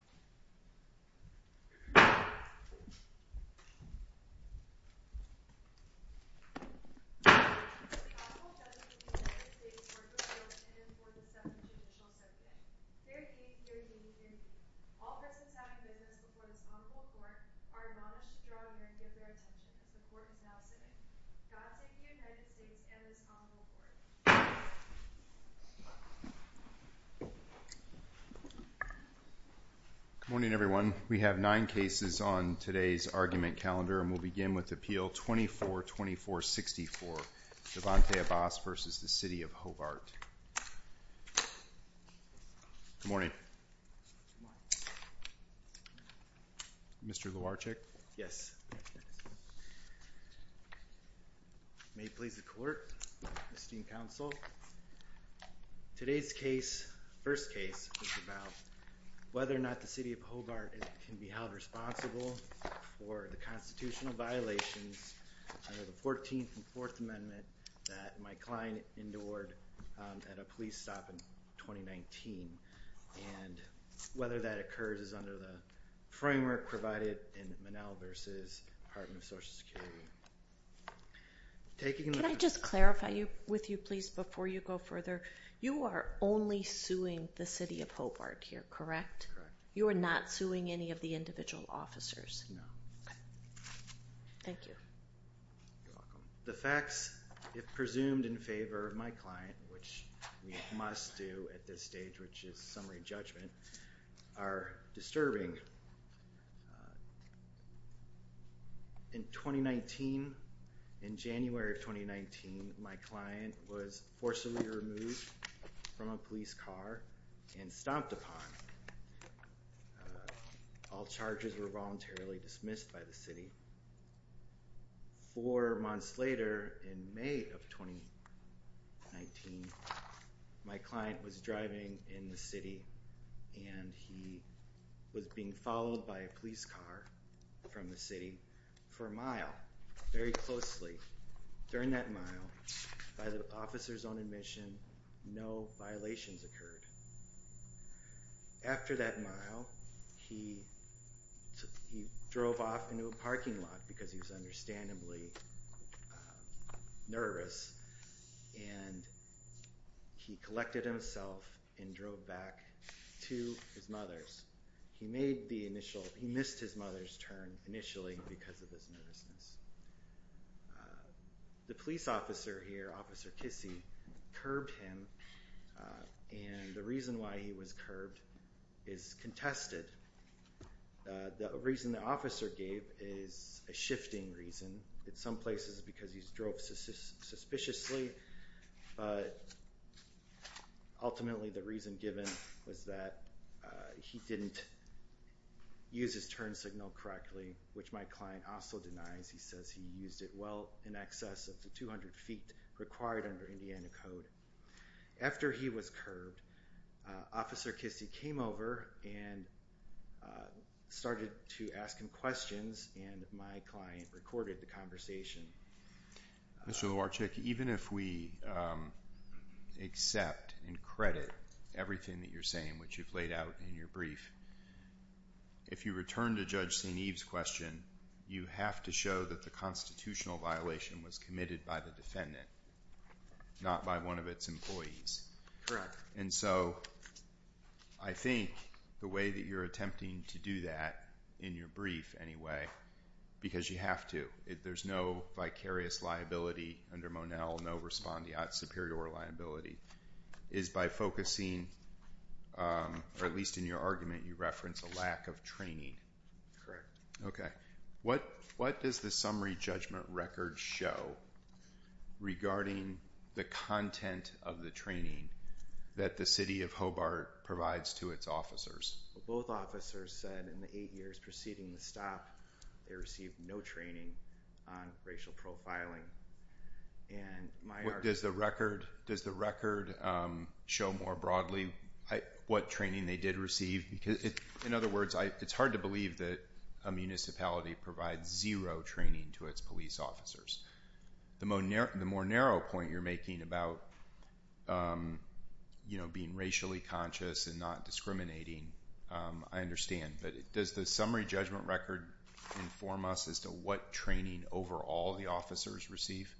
The Honorable Judge of the United States Court of Appeals, and for the 7th Judicial Subject. Fair game, fair game, fair game. All persons having business before this Honorable Court are admonished to draw near and give their attention as the Court is now sitting. God save the United States and this Honorable Court. Good morning, everyone. We have nine cases on today's argument calendar, and we'll begin with Appeal 24-2464, Devonte Abbas v. City of Hobart. Good morning. Mr. Luarchik? Yes. May it please the Court, esteemed counsel. Today's case, first case, is about whether or not the City of Hobart can be held responsible for the constitutional violations under the 14th and 4th Amendment that Mike Klein endured at a police stop in 2019, and whether that occurs is under the framework provided in Monell v. Department of Social Security. Can I just clarify with you, please, before you go further? You are only suing the City of Hobart here, correct? Correct. You are not suing any of the individual officers? No. Okay. Thank you. You're welcome. The facts, if presumed in favor of my client, which we must do at this stage, which is summary judgment, are disturbing. In 2019, in January of 2019, my client was forcibly removed from a police car and stomped upon. All charges were voluntarily dismissed by the City. Four months later, in May of 2019, my client was driving in the city and he was being followed by a police car from the city for a mile, very closely. During that mile, by the officer's own admission, no violations occurred. After that mile, he drove off into a parking lot because he was understandably nervous, and he collected himself and drove back to his mother's. He missed his mother's turn initially because of his nervousness. The police officer here, Officer Kissy, curbed him, and the reason why he was curbed is contested. The reason the officer gave is a shifting reason. In some places, it's because he drove suspiciously, but ultimately the reason given was that he didn't use his turn signal correctly, which my client also denies. He says he used it well in excess of the 200 feet required under Indiana Code. After he was curbed, Officer Kissy came over and started to ask him questions, and my client recorded the conversation. Mr. Lewarchik, even if we accept and credit everything that you're saying, which you've laid out in your brief, if you return to Judge St. Eve's question, you have to show that the constitutional violation was committed by the defendant, not by one of its employees. Correct. I think the way that you're attempting to do that, in your brief anyway, because you have to, there's no vicarious liability under Monell, no respondeat superior liability, is by focusing, or at least in your argument, you reference a lack of training. Correct. What does the summary judgment record show regarding the content of the training that the City of Hobart provides to its officers? Both officers said in the eight years preceding the stop, they received no training on racial profiling. Does the record show more broadly what training they did receive? In other words, it's hard to believe that a municipality provides zero training to its police officers. The more narrow point you're making about being racially conscious and not discriminating, I understand, but does the summary judgment record inform us as to what training overall the officers receive?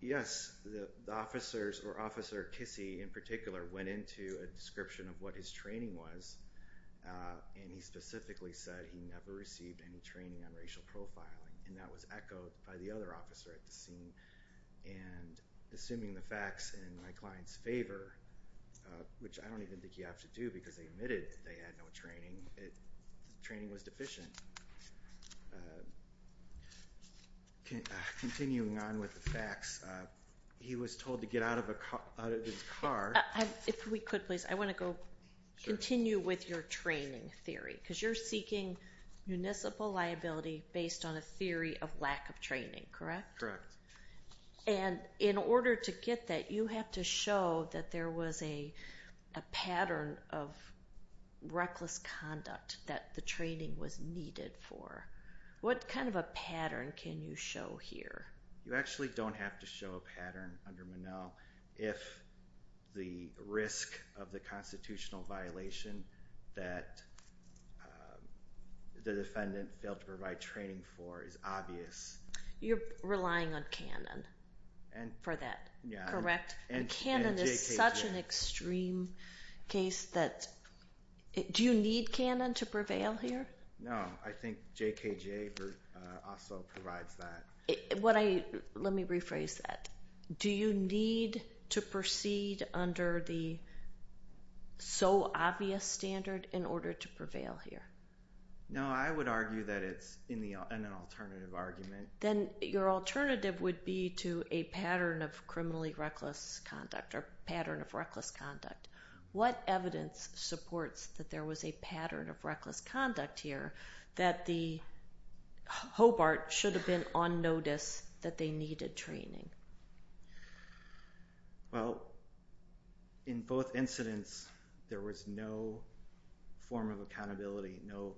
Yes. The officers, or Officer Kissy in particular, went into a description of what his training was, and he specifically said he never received any training on racial profiling. And that was echoed by the other officer at the scene. And assuming the facts in my client's favor, which I don't even think you have to do because they admitted they had no training, training was deficient. Continuing on with the facts, he was told to get out of his car. If we could please, I want to continue with your training theory, because you're seeking municipal liability based on a theory of lack of training, correct? Correct. And in order to get that, you have to show that there was a pattern of reckless conduct that the training was needed for. What kind of a pattern can you show here? You actually don't have to show a pattern under Monell if the risk of the constitutional violation that the defendant failed to provide training for is obvious. You're relying on Cannon for that, correct? And Cannon is such an extreme case that, do you need Cannon to prevail here? No. I think JKJ also provides that. Let me rephrase that. Do you need to proceed under the so obvious standard in order to prevail here? No, I would argue that it's an alternative argument. Then your alternative would be to a pattern of criminally reckless conduct or pattern of reckless conduct. What evidence supports that there was a pattern of reckless conduct here that the Hobart should have been on notice that they needed training? Well, in both incidents, there was no form of accountability, no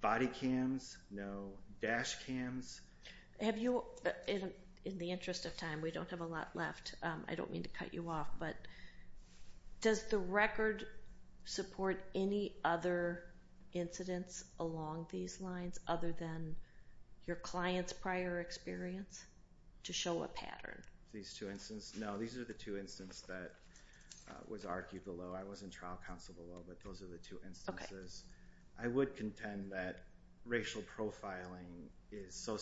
body cams, no dash cams. In the interest of time, we don't have a lot left. I don't mean to cut you off, but does the record support any other incidents along these lines other than your client's prior experience to show a pattern? These two instances? No, these are the two instances that was argued below. I was in trial counsel below, but those are the two instances. I would contend that racial profiling is so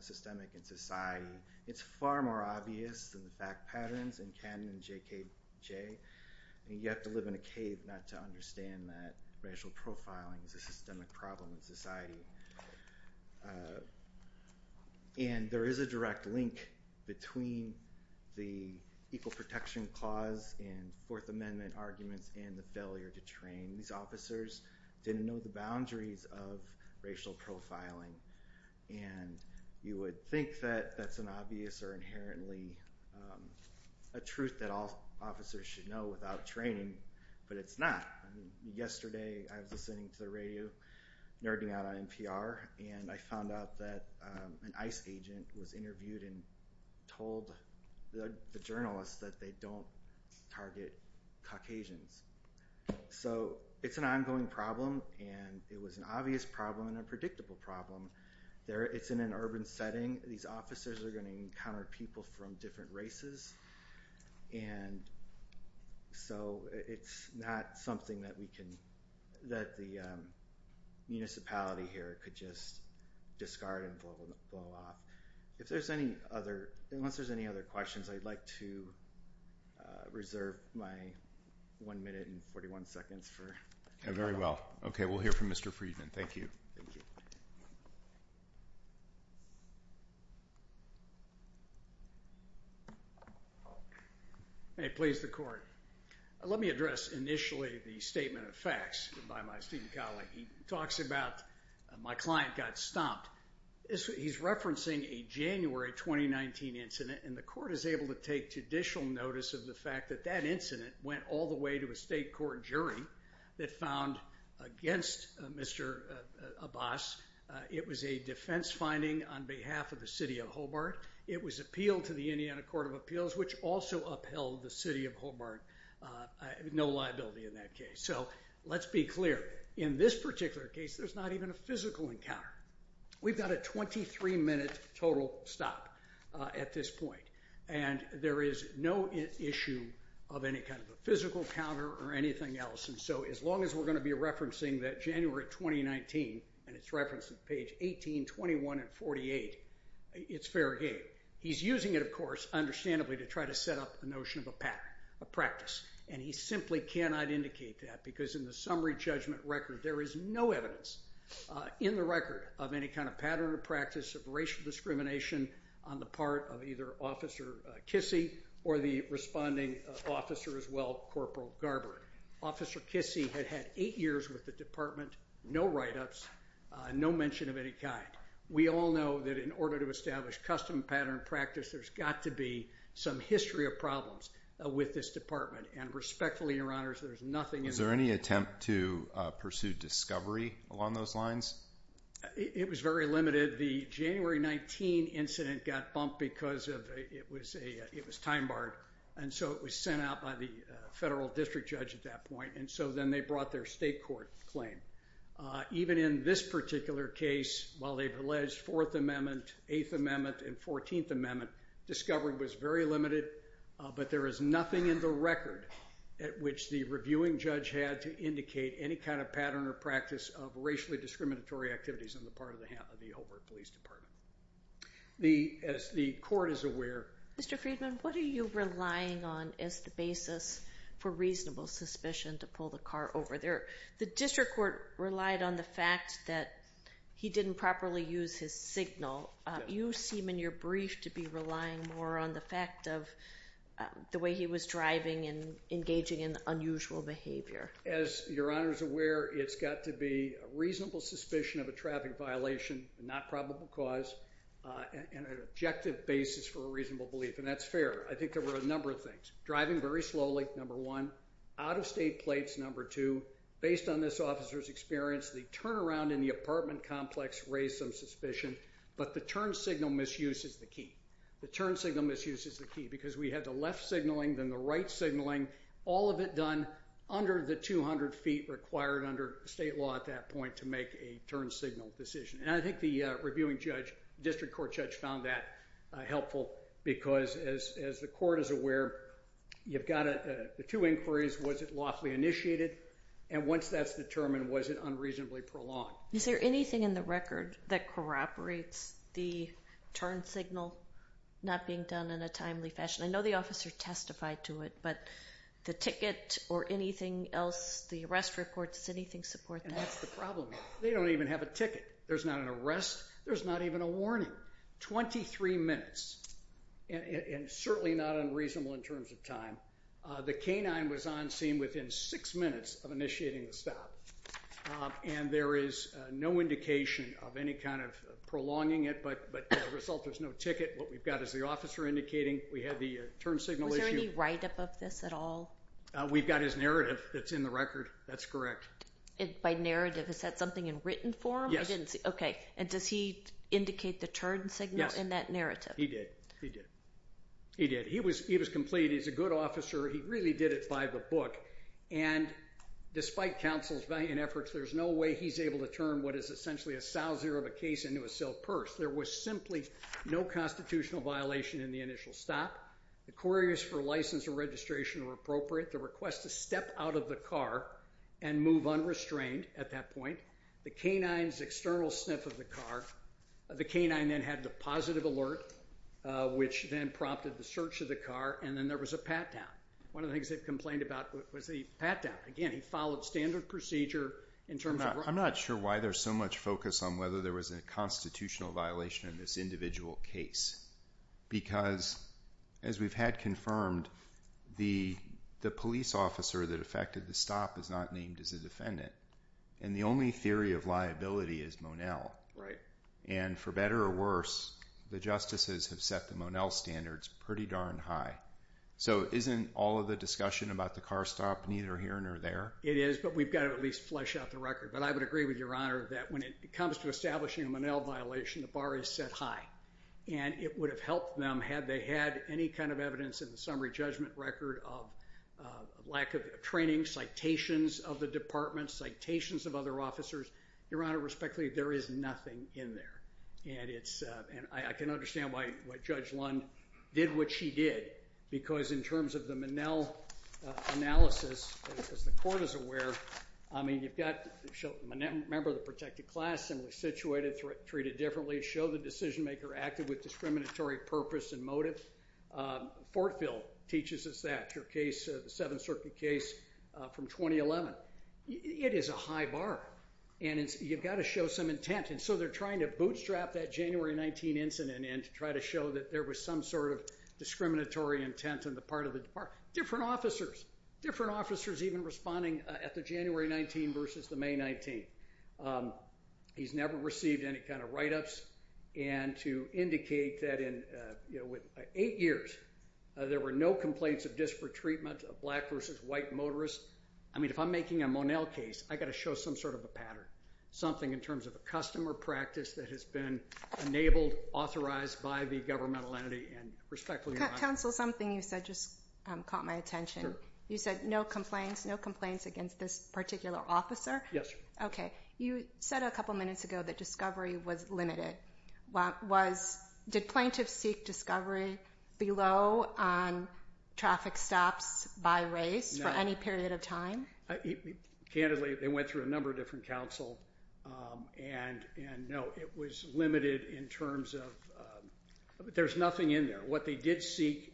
systemic in society. It's far more obvious than the fact patterns in Cannon and JKJ. You have to live in a cave not to understand that racial profiling is a systemic problem in society. There is a direct link between the Equal Protection Clause and Fourth Amendment arguments and the failure to train. These officers didn't know the boundaries of racial profiling. You would think that that's an obvious or inherently a truth that all officers should know without training, but it's not. Yesterday, I was listening to the radio, nerding out on NPR, and I found out that an ICE agent was interviewed and told the journalists that they don't target Caucasians. It's an ongoing problem, and it was an obvious problem and a predictable problem. It's in an urban setting. These officers are going to encounter people from different races, and so it's not something that the municipality here could just discard and blow off. Unless there's any other questions, I'd like to reserve my one minute and 41 seconds for any other questions. Very well. Okay, we'll hear from Mr. Friedman. Thank you. May it please the Court. Let me address initially the statement of facts by my student colleague. He talks about my client got stomped. He's referencing a January 2019 incident, and the Court is able to take judicial notice of the fact that that incident went all the way to a state court jury that found against Mr. Abbas. It was a defense finding on behalf of the city of Hobart. It was appealed to the Indiana Court of Appeals, which also upheld the city of Hobart. No liability in that case. So let's be clear. In this particular case, there's not even a physical encounter. We've got a 23-minute total stop at this point, and there is no issue of any kind of a physical encounter or anything else. And so as long as we're going to be referencing that January 2019, and it's referenced on page 18, 21, and 48, it's fair game. He's using it, of course, understandably, to try to set up a notion of a pattern, a practice, and he simply cannot indicate that because in the summary judgment record, there is no evidence in the record of any kind of pattern or practice of racial discrimination on the part of either Officer Kissy or the responding officer as well, Corporal Garber. Officer Kissy had had eight years with the department, no write-ups, no mention of any kind. We all know that in order to establish custom pattern practice, there's got to be some history of problems with this department, and respectfully, Your Honors, there's nothing in there. Is there any attempt to pursue discovery along those lines? It was very limited. The January 19 incident got bumped because it was time-barred, and so it was sent out by the federal district judge at that point, and so then they brought their state court claim. Even in this particular case, while they've alleged Fourth Amendment, Eighth Amendment, and Fourteenth Amendment, discovery was very limited, but there is nothing in the record at which the reviewing judge had to indicate any kind of pattern or practice of racially discriminatory activities on the part of the Hobart Police Department. As the court is aware— Mr. Friedman, what are you relying on as the basis for reasonable suspicion to pull the car over? The district court relied on the fact that he didn't properly use his signal. You seem in your brief to be relying more on the fact of the way he was driving and engaging in unusual behavior. As Your Honors are aware, it's got to be a reasonable suspicion of a traffic violation, not probable cause, and an objective basis for a reasonable belief, and that's fair. I think there were a number of things. Driving very slowly, number one. Out-of-state plates, number two. Based on this officer's experience, the turnaround in the apartment complex raised some suspicion, but the turn signal misuse is the key. The turn signal misuse is the key because we had the left signaling, then the right signaling, all of it done under the 200 feet required under state law at that point to make a turn signal decision. I think the reviewing judge, district court judge, found that helpful because, as the court is aware, you've got the two inquiries. Was it lawfully initiated? And once that's determined, was it unreasonably prolonged? Is there anything in the record that corroborates the turn signal not being done in a timely fashion? I know the officer testified to it, but the ticket or anything else, the arrest report, does anything support that? That's the problem. They don't even have a ticket. There's not an arrest. There's not even a warning. Twenty-three minutes, and certainly not unreasonable in terms of time. The canine was on scene within six minutes of initiating the stop, and there is no indication of any kind of prolonging it, but as a result, there's no ticket. What we've got is the officer indicating we had the turn signal issue. Was there any write-up of this at all? We've got his narrative that's in the record. That's correct. By narrative, is that something in written form? Yes. Okay, and does he indicate the turn signal in that narrative? Yes, he did. He did. He did. He was complete. He's a good officer. He really did it by the book, and despite counsel's efforts, there's no way he's able to turn what is essentially a sowser of a case into a silk purse. There was simply no constitutional violation in the initial stop. The queries for license or registration were appropriate. The request to step out of the car and move unrestrained at that point. The canine's external sniff of the car. The canine then had the positive alert, which then prompted the search of the car, and then there was a pat-down. One of the things they've complained about was the pat-down. Again, he followed standard procedure in terms of writing. I'm not sure why there's so much focus on whether there was a constitutional violation in this individual case because, as we've had confirmed, the police officer that affected the stop is not named as a defendant, and the only theory of liability is Monell. Right. And for better or worse, the justices have set the Monell standards pretty darn high. So isn't all of the discussion about the car stop neither here nor there? It is, but we've got to at least flesh out the record. But I would agree with Your Honor that when it comes to establishing a Monell violation, the bar is set high. And it would have helped them had they had any kind of evidence in the summary judgment record of lack of training, citations of the department, citations of other officers. Your Honor, respectfully, there is nothing in there. I can understand why Judge Lund did what she did because in terms of the Monell analysis, as the court is aware, I mean, you've got a member of the protected class, similarly situated, treated differently, show the decision-maker acted with discriminatory purpose and motive. Fortville teaches us that, your case, the Seventh Circuit case from 2011. It is a high bar, and you've got to show some intent. And so they're trying to bootstrap that January 19 incident and try to show that there was some sort of discriminatory intent on the part of the department. Different officers, different officers even responding at the January 19 versus the May 19. He's never received any kind of write-ups. And to indicate that in eight years there were no complaints of disparate treatment of black versus white motorists, I mean, if I'm making a Monell case, I've got to show some sort of a pattern, something in terms of a customer practice that has been enabled, authorized by the governmental entity and respectfully not. Counsel, something you said just caught my attention. You said no complaints, no complaints against this particular officer? Yes, sir. Okay. You said a couple minutes ago that discovery was limited. Did plaintiffs seek discovery below on traffic stops by race for any period of time? Candidly, they went through a number of different counsel, and no, it was limited in terms of there's nothing in there. What they did seek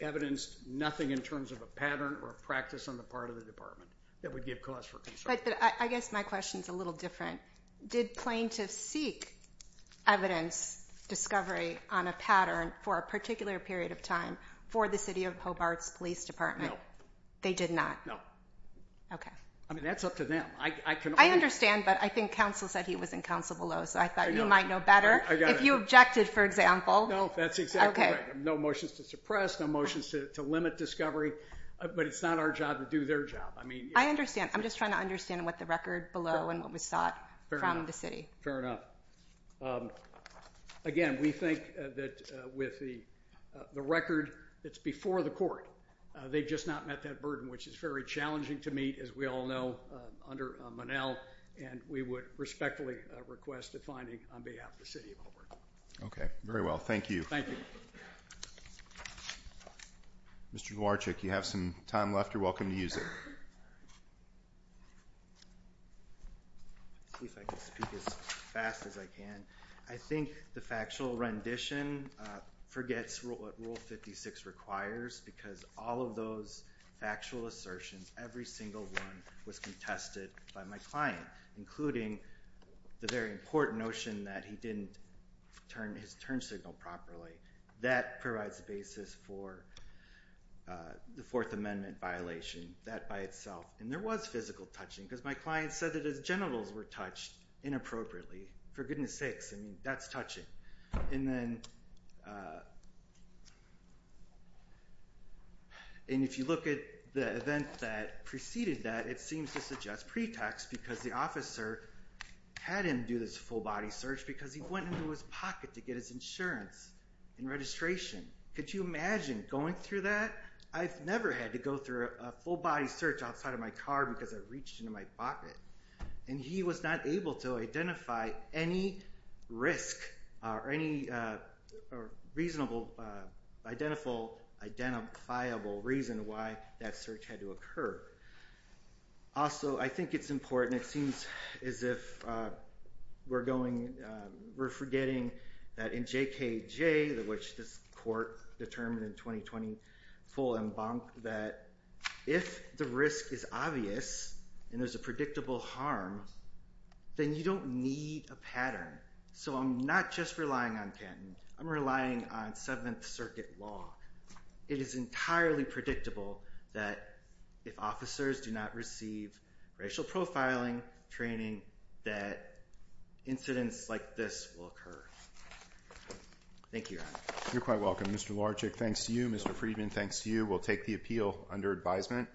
evidenced nothing in terms of a pattern or a practice on the part of the department that would give cause for concern. But I guess my question is a little different. Did plaintiffs seek evidence discovery on a pattern for a particular period of time for the city of Hobart's police department? No. They did not? No. Okay. I mean, that's up to them. I can only— I understand, but I think counsel said he was in counsel below, so I thought you might know better. I got it. If you objected, for example— No, that's exactly right. Okay. No motions to suppress, no motions to limit discovery, but it's not our job to do their job. I mean— I understand. I'm just trying to understand what the record below and what was sought from the city. Fair enough. Again, we think that with the record that's before the court, they've just not met that burden, which is very challenging to meet, as we all know, under Monell. And we would respectfully request a finding on behalf of the city of Hobart. Okay. Very well. Thank you. Thank you. Mr. Dworczyk, you have some time left. You're welcome to use it. I'll see if I can speak as fast as I can. I think the factual rendition forgets what Rule 56 requires because all of those factual assertions, every single one, was contested by my client, including the very important notion that he didn't turn his turn signal properly. That provides the basis for the Fourth Amendment violation, that by itself. And there was physical touching because my client said that his genitals were touched inappropriately. For goodness sakes, I mean, that's touching. And if you look at the event that preceded that, it seems to suggest pretext because the officer had him do this full-body search because he went into his pocket to get his insurance and registration. Could you imagine going through that? I've never had to go through a full-body search outside of my car because I reached into my pocket. And he was not able to identify any risk or any reasonable, identifiable reason why that search had to occur. Also, I think it's important. It seems as if we're forgetting that in JKJ, which this court determined in 2020 full en banc, that if the risk is obvious and there's a predictable harm, then you don't need a pattern. So I'm not just relying on Canton. I'm relying on Seventh Circuit law. It is entirely predictable that if officers do not receive racial profiling training, that incidents like this will occur. Thank you, Your Honor. You're quite welcome. Mr. Larchick, thanks to you. Mr. Friedman, thanks to you. We'll take the appeal under advisement.